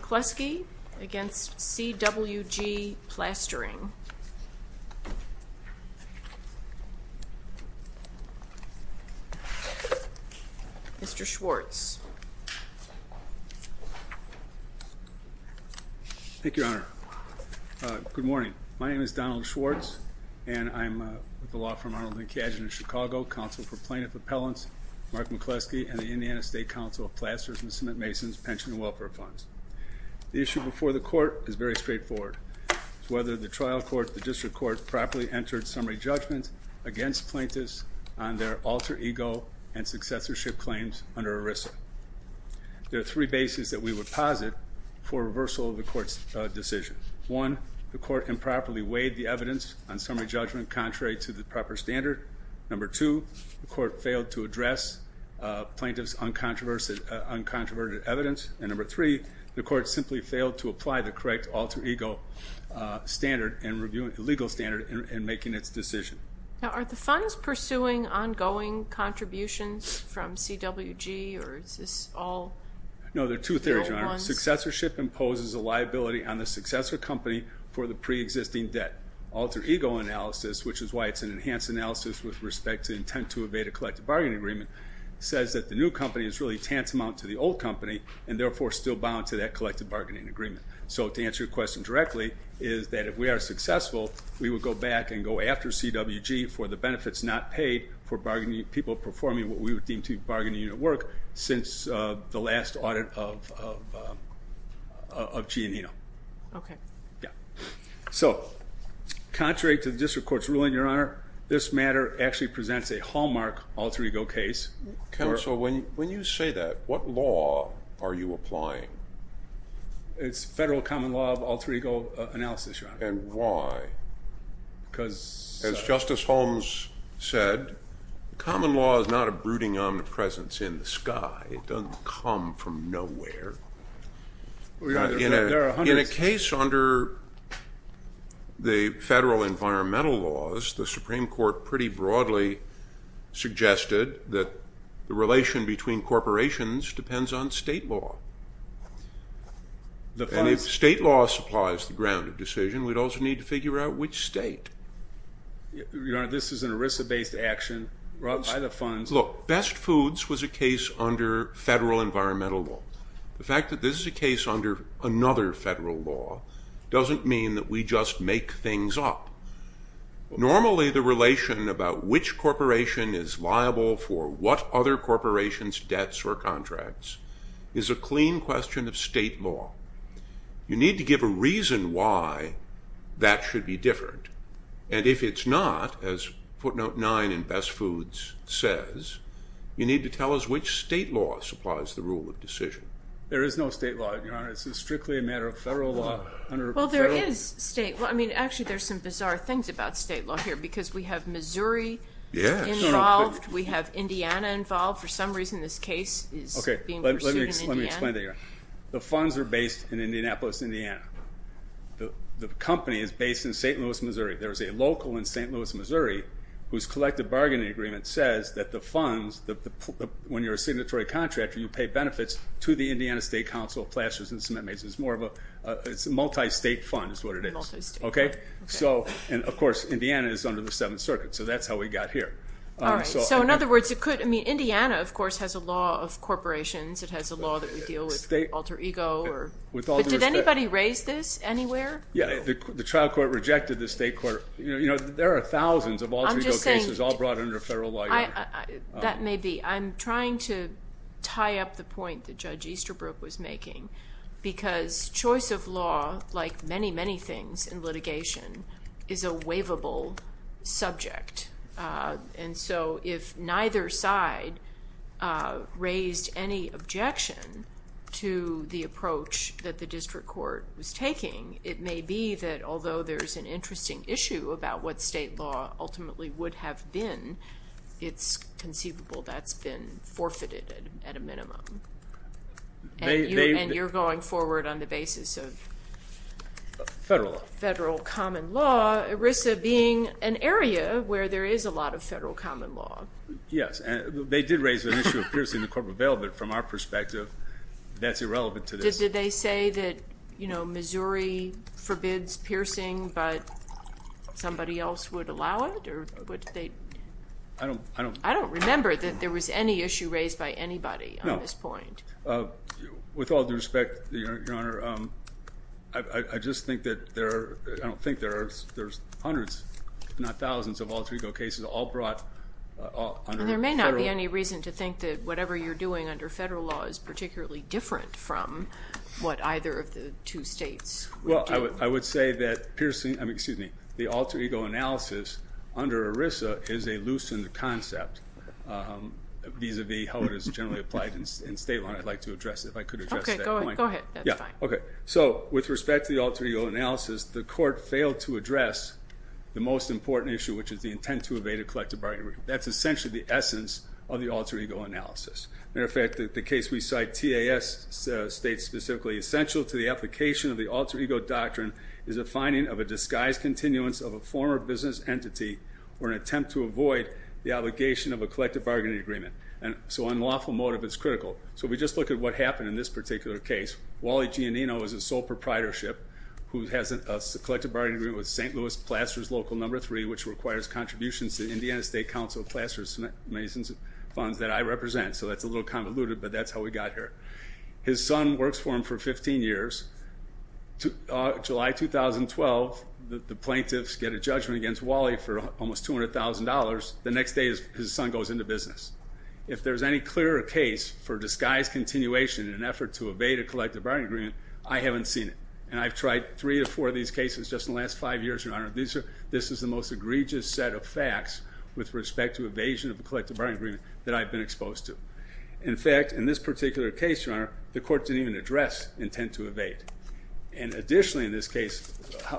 McCleskey v. CWG Plastering, LLC Thank you, Your Honor. Good morning. My name is Donald Schwartz, and I'm with the law firm Arnold and Cajun in Chicago, Counsel for Plaintiff Appellants, Mark McCleskey, and the Indiana State Council of Plasters and Cement Masons, Pension and Welfare Funds. The issue before the court is very straightforward. It's whether the trial court, the district court, properly entered summary judgments against plaintiffs on their alter ego and successorship claims under ERISA. There are three bases that we would posit for reversal of the court's decision. One, the court improperly weighed the evidence on summary judgment contrary to the proper standard. Number two, the court failed to address plaintiff's uncontroverted evidence. And number three, the court simply failed to apply the correct alter ego standard and legal standard in making its decision. Now, are the funds pursuing ongoing contributions from CWG, or is this all? No, there are two theories, Your Honor. Successorship imposes a liability on the successor company for the preexisting debt. Alter ego analysis, which is why it's an enhanced analysis with respect to intent to evade a collective bargaining agreement, says that the new company is really tantamount to the old company, and therefore still bound to that collective bargaining agreement. So, to answer your question directly, is that if we are successful, we would go back and go after CWG for the benefits not paid for people performing what we would deem to be bargaining unit work since the last audit of Giannino. Okay. Yeah. So, contrary to the district court's ruling, Your Honor, this matter actually presents a hallmark alter ego case. Counsel, when you say that, what law are you applying? It's federal common law of alter ego analysis, Your Honor. And why? Because… As Justice Holmes said, common law is not a brooding omnipresence in the sky. It doesn't come from nowhere. Your Honor, there are hundreds… In a case under the federal environmental laws, the Supreme Court pretty broadly suggested that the relation between corporations depends on state law. And if state law supplies the ground of decision, we'd also need to figure out which state. Your Honor, this is an ERISA-based action brought by the funds… Look, Best Foods was a case under federal environmental law. The fact that this is a case under another federal law doesn't mean that we just make things up. Normally, the relation about which corporation is liable for what other corporation's debts or contracts is a clean question of state law. You need to give a reason why that should be different. And if it's not, as footnote 9 in Best Foods says, you need to tell us which state law supplies the rule of decision. There is no state law, Your Honor. This is strictly a matter of federal law. Well, there is state law. I mean, actually, there's some bizarre things about state law here because we have Missouri involved. We have Indiana involved. For some reason, this case is being pursued in Indiana. Let me explain that, Your Honor. The funds are based in Indianapolis, Indiana. The company is based in St. Louis, Missouri. There is a local in St. Louis, Missouri whose collective bargaining agreement says that the funds, when you're a signatory contractor, you pay benefits to the Indiana State Council of Plasters and Cement Masons. It's a multi-state fund is what it is. Multi-state. Okay? And, of course, Indiana is under the Seventh Circuit, so that's how we got here. All right. So, in other words, it could… I mean, Indiana, of course, has a law of corporations. It has a law that we deal with alter ego. With all due respect… But did anybody raise this anywhere? Yeah, the trial court rejected the state court. You know, there are thousands of alter ego cases all brought under federal law. That may be. I'm trying to tie up the point that Judge Easterbrook was making because choice of law, like many, many things in litigation, is a waivable subject. And so if neither side raised any objection to the approach that the district court was taking, it may be that although there's an interesting issue about what state law ultimately would have been, it's conceivable that's been forfeited at a minimum. And you're going forward on the basis of… Federal law. Federal law, ERISA being an area where there is a lot of federal common law. Yes. They did raise the issue of piercing the corporate bail, but from our perspective, that's irrelevant to this. Did they say that, you know, Missouri forbids piercing, but somebody else would allow it? Or would they… I don't… I don't remember that there was any issue raised by anybody on this point. No. With all due respect, Your Honor, I just think that there are, I don't think there are, there's hundreds, if not thousands of alter ego cases all brought under federal… And there may not be any reason to think that whatever you're doing under federal law is particularly different from what either of the two states would do. Well, I would say that piercing, I mean, excuse me, the alter ego analysis under ERISA is a loosened concept vis-à-vis how it is generally applied in state law. And I'd like to address it, if I could address that point. Okay. Go ahead. That's fine. Okay. So, with respect to the alter ego analysis, the Court failed to address the most important issue, which is the intent to evade a collective bargaining agreement. That's essentially the essence of the alter ego analysis. Matter of fact, the case we cite, TAS, states specifically, essential to the application of the alter ego doctrine is a finding of a disguised continuance of a former business entity or an attempt to avoid the obligation of a collective bargaining agreement. And so, on lawful motive, it's critical. So if we just look at what happened in this particular case, Wally Giannino is a sole proprietorship who has a collective bargaining agreement with St. Louis Plaster's Local No. 3, which requires contributions to the Indiana State Council of Plaster's Masons Funds that I represent. So that's a little convoluted, but that's how we got here. His son works for him for 15 years. July 2012, the plaintiffs get a judgment against Wally for almost $200,000. The next day, his son goes into business. If there's any clearer case for disguised continuation in an effort to evade a collective bargaining agreement, I haven't seen it. And I've tried three or four of these cases just in the last five years, Your Honor. This is the most egregious set of facts with respect to evasion of a collective bargaining agreement that I've been exposed to. In fact, in this particular case, Your Honor, the court didn't even address intent to evade. And additionally in this case,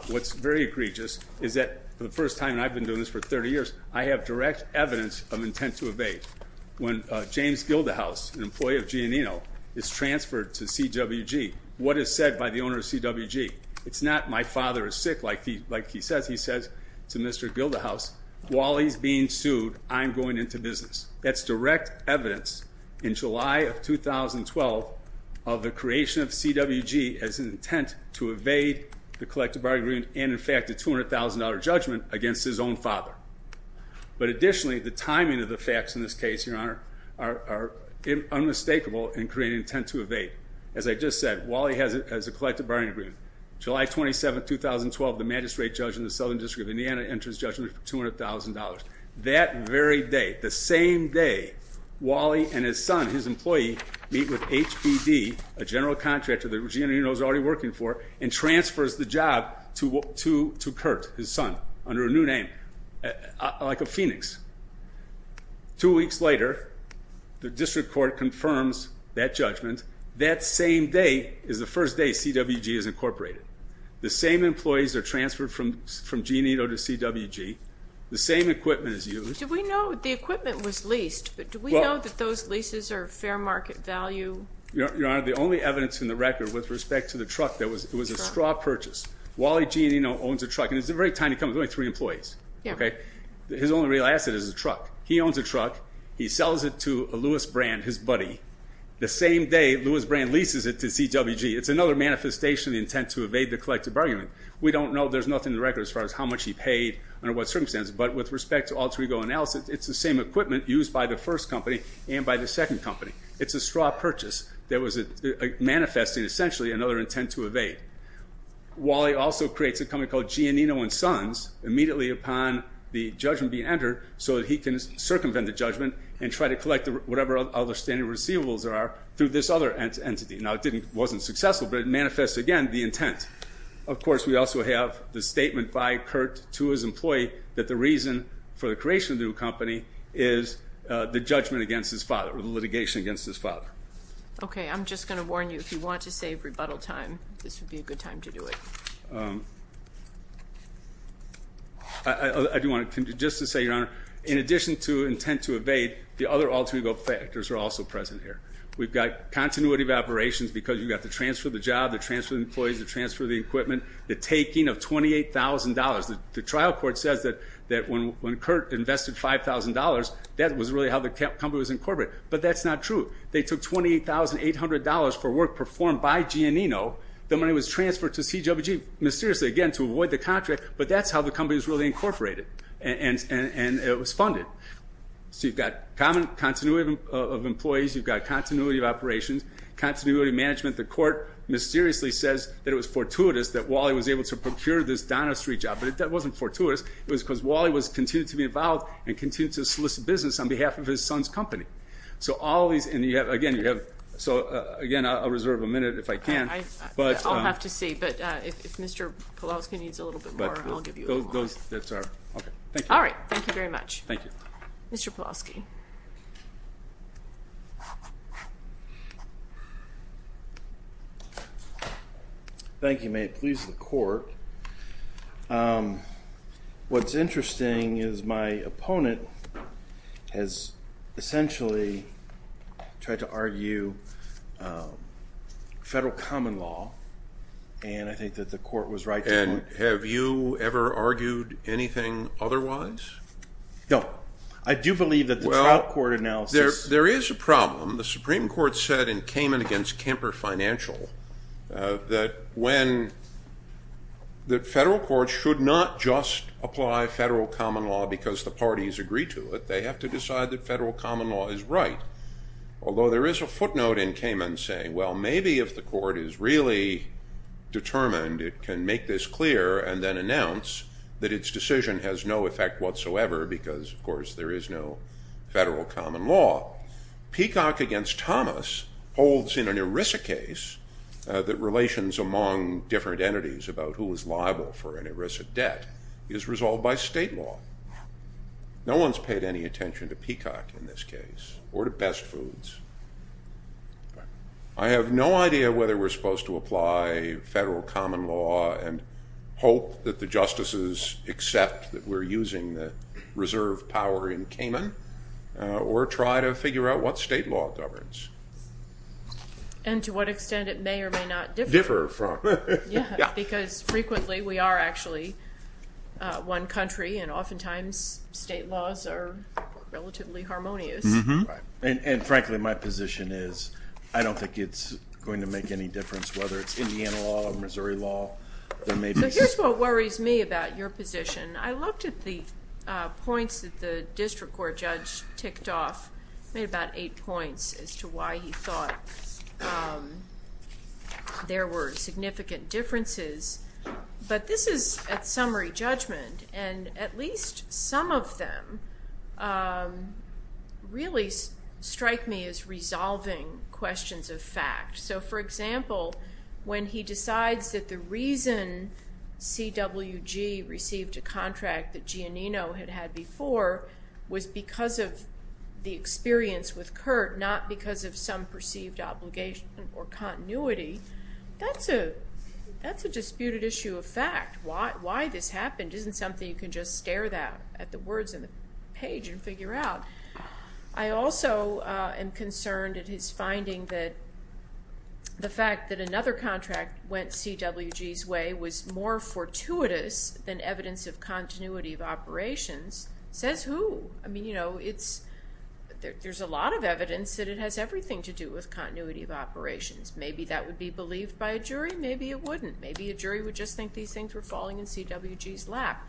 what's very egregious is that for the first time, and I've been doing this for 30 years, I have direct evidence of intent to evade. When James Gildahouse, an employee of Giannino, is transferred to CWG, what is said by the owner of CWG? It's not, my father is sick, like he says. He says to Mr. Gildahouse, while he's being sued, I'm going into business. That's direct evidence in July of 2012 of the creation of CWG as an intent to evade the collective bargaining agreement, and in fact a $200,000 judgment against his own father. But additionally, the timing of the facts in this case, Your Honor, are unmistakable in creating intent to evade. As I just said, Wally has a collective bargaining agreement. July 27, 2012, the magistrate judge in the Southern District of Indiana enters judgment for $200,000. That very day, the same day, Wally and his son, his employee, meet with HBD, a general contractor that Giannino is already working for, and transfers the job to Kurt, his son, under a new name, like a phoenix. Two weeks later, the district court confirms that judgment. That same day is the first day CWG is incorporated. The same employees are transferred from Giannino to CWG. The same equipment is used. Did we know the equipment was leased, but do we know that those leases are fair market value? Your Honor, the only evidence in the record with respect to the truck, it was a straw purchase. Wally Giannino owns a truck, and it's a very tiny company, only three employees. His only real asset is a truck. He owns a truck. He sells it to a Lewis brand, his buddy. The same day, Lewis brand leases it to CWG. It's another manifestation of the intent to evade the collective bargaining agreement. We don't know. There's nothing in the record as far as how much he paid, under what circumstances. But with respect to alter ego analysis, it's the same equipment used by the first company and by the second company. It's a straw purchase that was manifesting, essentially, another intent to evade. Wally also creates a company called Giannino and Sons, immediately upon the judgment being entered, so that he can circumvent the judgment and try to collect whatever other standard receivables there are through this other entity. Now, it wasn't successful, but it manifests, again, the intent. Of course, we also have the statement by Kurt to his employee that the reason for the creation of the new company is the judgment against his father or the litigation against his father. Okay. I'm just going to warn you, if you want to save rebuttal time, this would be a good time to do it. I do want to just say, Your Honor, in addition to intent to evade, the other alter ego factors are also present here. We've got continuity of operations because you've got to transfer the job, to transfer the employees, to transfer the equipment, the taking of $28,000. The trial court says that when Kurt invested $5,000, that was really how the company was incorporated, but that's not true. They took $28,800 for work performed by Giannino. The money was transferred to CWG, mysteriously, again, to avoid the contract, but that's how the company was really incorporated, and it was funded. So you've got common continuity of employees. You've got continuity of operations, continuity of management. The court mysteriously says that it was fortuitous that Wally was able to procure this Donner Street job, but that wasn't fortuitous. It was because Wally continued to be involved and continued to solicit business on behalf of his son's company. So all these, and you have, again, you have, so, again, I'll reserve a minute if I can. I'll have to see, but if Mr. Pulaski needs a little bit more, I'll give you a moment. All right. Thank you very much. Thank you. Mr. Pulaski. Thank you. May it please the court. What's interesting is my opponent has essentially tried to argue federal common law, and I think that the court was right to do it. And have you ever argued anything otherwise? No. I do believe that the trial court analysis. Well, there is a problem. The Supreme Court said in Kamen against Kemper Financial that federal courts should not just apply federal common law because the parties agree to it. They have to decide that federal common law is right, although there is a footnote in Kamen saying, well, maybe if the court is really determined it can make this clear and then announce that its decision has no effect whatsoever because, of course, there is no federal common law. Peacock against Thomas holds in an ERISA case that relations among different entities about who is liable for an ERISA debt is resolved by state law. No one has paid any attention to Peacock in this case or to Best Foods. I have no idea whether we are supposed to apply federal common law and hope that the justices accept that we are using the reserve power in Kamen or try to figure out what state law governs. And to what extent it may or may not differ from. Because frequently we are actually one country and oftentimes state laws are relatively harmonious. And frankly, my position is I don't think it's going to make any difference whether it's Indiana law or Missouri law. Here's what worries me about your position. I looked at the points that the district court judge ticked off. Made about eight points as to why he thought there were significant differences. But this is at summary judgment. And at least some of them really strike me as resolving questions of fact. So, for example, when he decides that the reason CWG received a contract that Giannino had had before was because of the experience with Curt, not because of some perceived obligation or continuity, that's a disputed issue of fact. Why this happened isn't something you can just stare at the words on the page and figure out. I also am concerned at his finding that the fact that another contract went CWG's way was more fortuitous than evidence of continuity of operations says who? I mean, you know, there's a lot of evidence that it has everything to do with continuity of operations. Maybe that would be believed by a jury. Maybe it wouldn't. Maybe a jury would just think these things were falling in CWG's lap.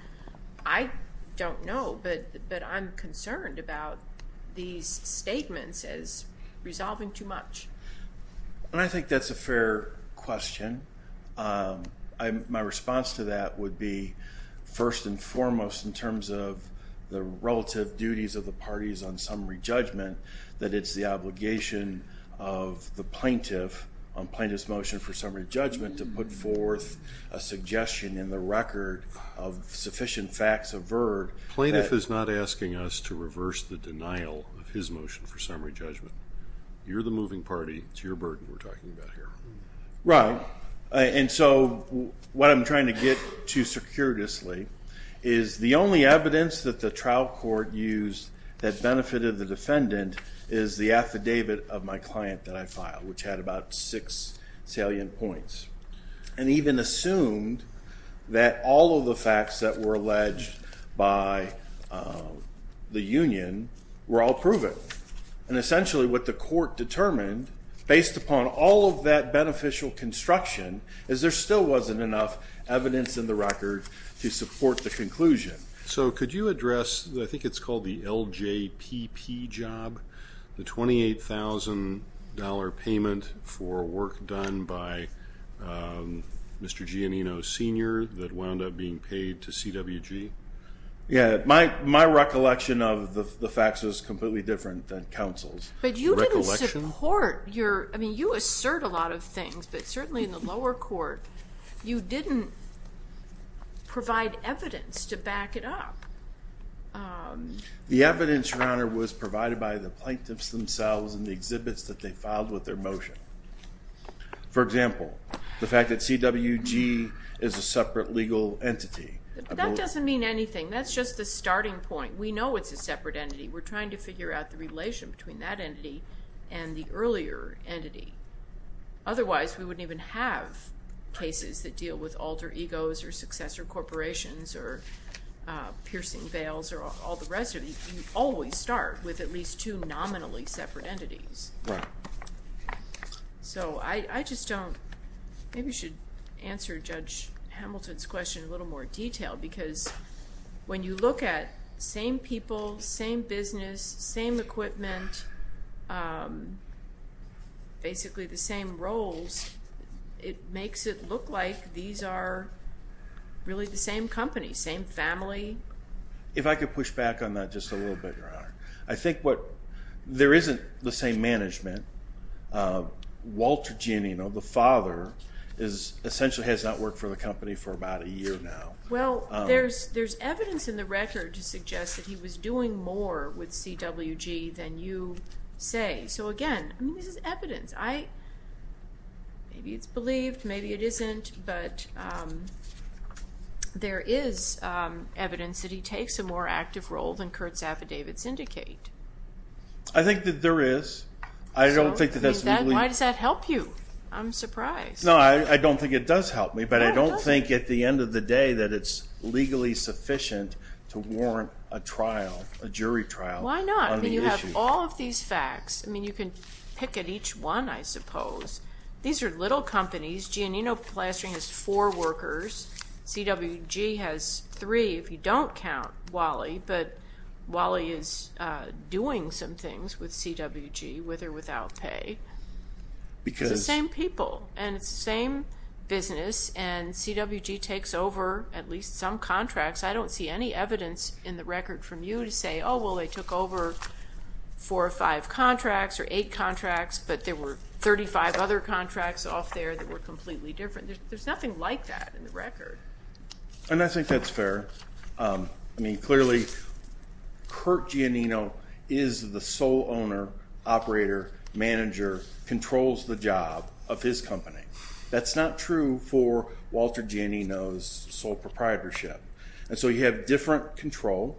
I don't know, but I'm concerned about these statements as resolving too much. And I think that's a fair question. My response to that would be, first and foremost, in terms of the relative duties of the parties on summary judgment, that it's the obligation of the plaintiff on plaintiff's motion for summary judgment to put forth a suggestion in the record of sufficient facts averred. Plaintiff is not asking us to reverse the denial of his motion for summary judgment. You're the moving party. It's your burden we're talking about here. Right. And so what I'm trying to get to circuitously is the only evidence that the trial court used that benefited the defendant is the affidavit of my client that I filed, which had about six salient points, and even assumed that all of the facts that were alleged by the union were all proven. And essentially what the court determined, based upon all of that beneficial construction, is there still wasn't enough evidence in the record to support the conclusion. So could you address, I think it's called the LJPP job, the $28,000 payment for work done by Mr. Giannino Sr. that wound up being paid to CWG? Yeah. My recollection of the facts is completely different than counsel's recollection. But you didn't support your, I mean, you assert a lot of things, but certainly in the lower court, you didn't provide evidence to back it up. The evidence, Your Honor, was provided by the plaintiffs themselves and the exhibits that they filed with their motion. For example, the fact that CWG is a separate legal entity. That doesn't mean anything. That's just the starting point. We know it's a separate entity. We're trying to figure out the relation between that entity and the earlier entity. Otherwise, we wouldn't even have cases that deal with alter egos or successor corporations or piercing veils or all the rest of it. You always start with at least two nominally separate entities. Right. So I just don't, maybe we should answer Judge Hamilton's question in a little more detail because when you look at same people, same business, same equipment, basically the same roles, it makes it look like these are really the same company, same family. If I could push back on that just a little bit, Your Honor. I think what there isn't the same management. Walter Genino, the father, essentially has not worked for the company for about a year now. Well, there's evidence in the record to suggest that he was doing more with CWG than you say. So, again, this is evidence. Maybe it's believed, maybe it isn't, but there is evidence that he takes a more active role than Kurt's affidavits indicate. I think that there is. Why does that help you? I'm surprised. No, I don't think it does help me. But I don't think at the end of the day that it's legally sufficient to warrant a trial, a jury trial on the issue. Why not? I mean, you have all of these facts. I mean, you can pick at each one, I suppose. These are little companies. Genino Plastering has four workers. CWG has three if you don't count Wally, but Wally is doing some things with CWG, with or without pay. It's the same people, and it's the same business, and CWG takes over at least some contracts. I don't see any evidence in the record from you to say, oh, well, they took over four or five contracts or eight contracts, but there were 35 other contracts off there that were completely different. There's nothing like that in the record. And I think that's fair. I mean, clearly, Curt Giannino is the sole owner, operator, manager, controls the job of his company. That's not true for Walter Giannino's sole proprietorship. And so you have different control.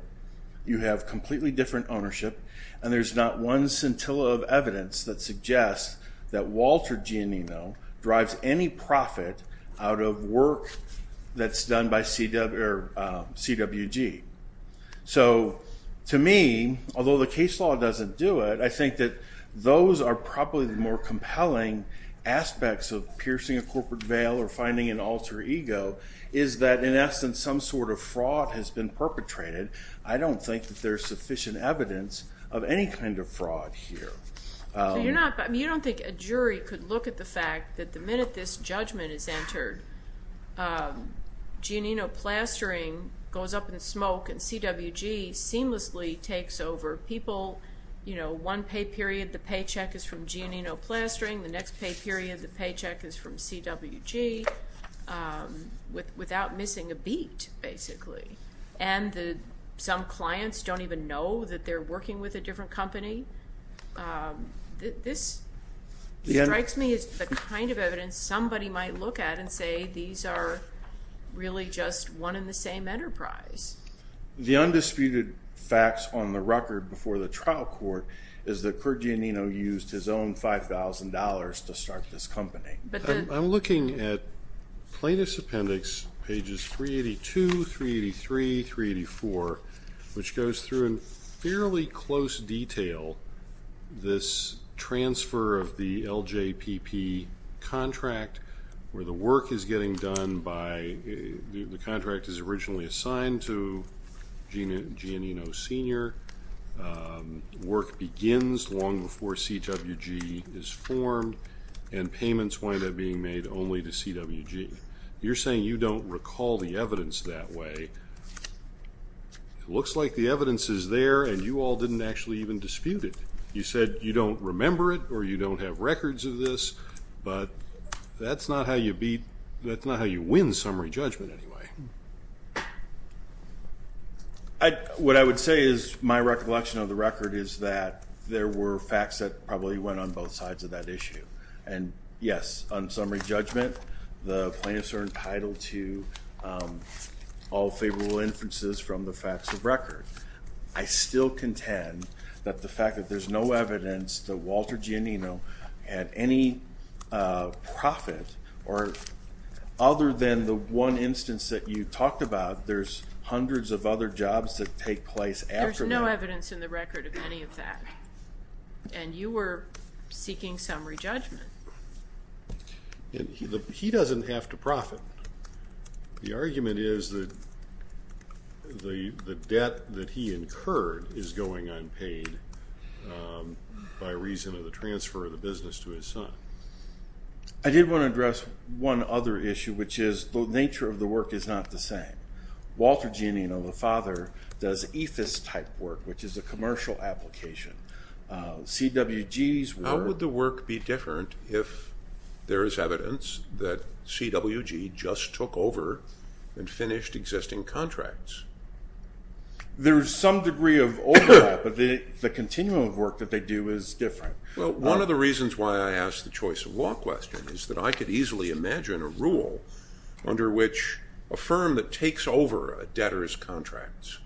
You have completely different ownership, and there's not one scintilla of evidence that suggests that Walter Giannino drives any profit out of work that's done by CWG. So to me, although the case law doesn't do it, I think that those are probably the more compelling aspects of piercing a corporate veil or finding an alter ego is that, in essence, some sort of fraud has been perpetrated. I don't think that there's sufficient evidence of any kind of fraud here. You don't think a jury could look at the fact that the minute this judgment is entered, Giannino plastering goes up in smoke and CWG seamlessly takes over people. One pay period, the paycheck is from Giannino plastering. The next pay period, the paycheck is from CWG without missing a beat, basically. And some clients don't even know that they're working with a different company. This strikes me as the kind of evidence somebody might look at and say these are really just one and the same enterprise. The undisputed facts on the record before the trial court is that Kurt Giannino used his own $5,000 to start this company. I'm looking at plaintiff's appendix, pages 382, 383, 384, which goes through in fairly close detail this transfer of the LJPP contract where the work is getting done by the contract is originally assigned to Giannino Sr. Work begins long before CWG is formed and payments wind up being made only to CWG. You're saying you don't recall the evidence that way. It looks like the evidence is there and you all didn't actually even dispute it. You said you don't remember it or you don't have records of this, but that's not how you win summary judgment anyway. What I would say is my recollection of the record is that there were facts that probably went on both sides of that issue. And yes, on summary judgment, the plaintiffs are entitled to all favorable inferences from the facts of record. I still contend that the fact that there's no evidence that Walter Giannino had any profit other than the one instance that you talked about, there's hundreds of other jobs that take place after that. There's no evidence in the record of any of that. And you were seeking summary judgment. He doesn't have to profit. The argument is that the debt that he incurred is going unpaid by reason of the transfer of the business to his son. I did want to address one other issue, which is the nature of the work is not the same. Walter Giannino, the father, does EFIS type work, which is a commercial application. How would the work be different if there is evidence that CWG just took over and finished existing contracts? There's some degree of overlap, but the continuum of work that they do is different. Well, one of the reasons why I asked the choice of law question is that I could easily imagine a rule under which a firm that takes over a debtor's contracts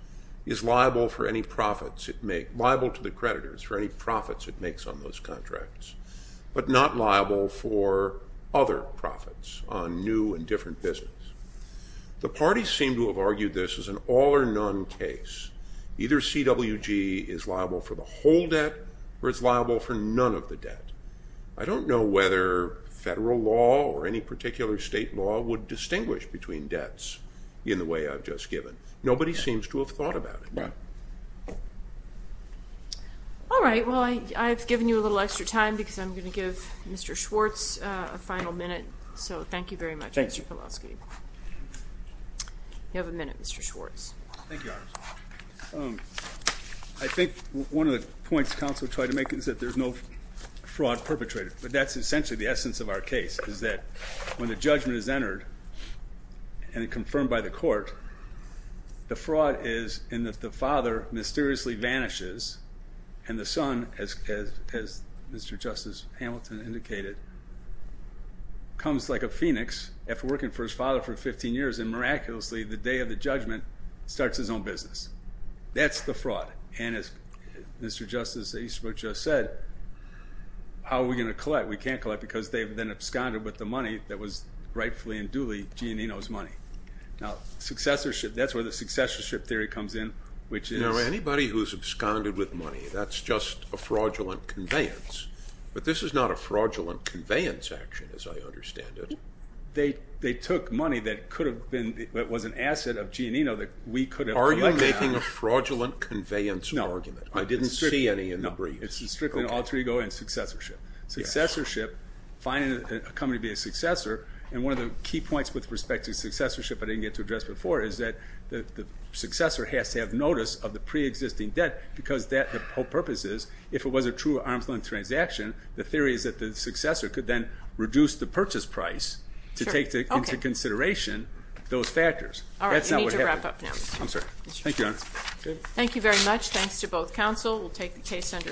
is liable to the creditors for any profits it makes on those contracts, but not liable for other profits on new and different business. The parties seem to have argued this as an all or none case. Either CWG is liable for the whole debt or it's liable for none of the debt. I don't know whether federal law or any particular state law would distinguish between debts in the way I've just given. Nobody seems to have thought about it. All right. Well, I've given you a little extra time because I'm going to give Mr. Schwartz a final minute. So thank you very much, Mr. Pelosi. You have a minute, Mr. Schwartz. Thank you, Your Honor. I think one of the points counsel tried to make is that there's no fraud perpetrator, but that's essentially the essence of our case is that when the judgment is entered and confirmed by the court, the fraud is in that the father mysteriously vanishes and the son, as Mr. Justice Hamilton indicated, comes like a phoenix after working for his father for 15 years and miraculously the day of the judgment starts his own business. That's the fraud. And as Mr. Justice Eastbrook just said, how are we going to collect? We can't collect because they've been absconded with the money that was rightfully and duly Giannino's money. Now, successorship, that's where the successorship theory comes in, which is anybody who's absconded with money, that's just a fraudulent conveyance, but this is not a fraudulent conveyance action as I understand it. They took money that could have been, that was an asset of Giannino that we could have collected. Are you making a fraudulent conveyance argument? No. I didn't see any in the briefs. It's strictly an alter ego and successorship. Successorship, finding a company to be a successor, and one of the key points with respect to successorship I didn't get to address before is that the successor has to have notice of the preexisting debt because that, the whole purpose is, if it was a true arm's length transaction, the theory is that the successor could then reduce the purchase price to take into consideration those factors. All right, you need to wrap up now. I'm sorry. Thank you, Your Honor. Thank you very much. Thanks to both counsel. We'll take the case under advisement.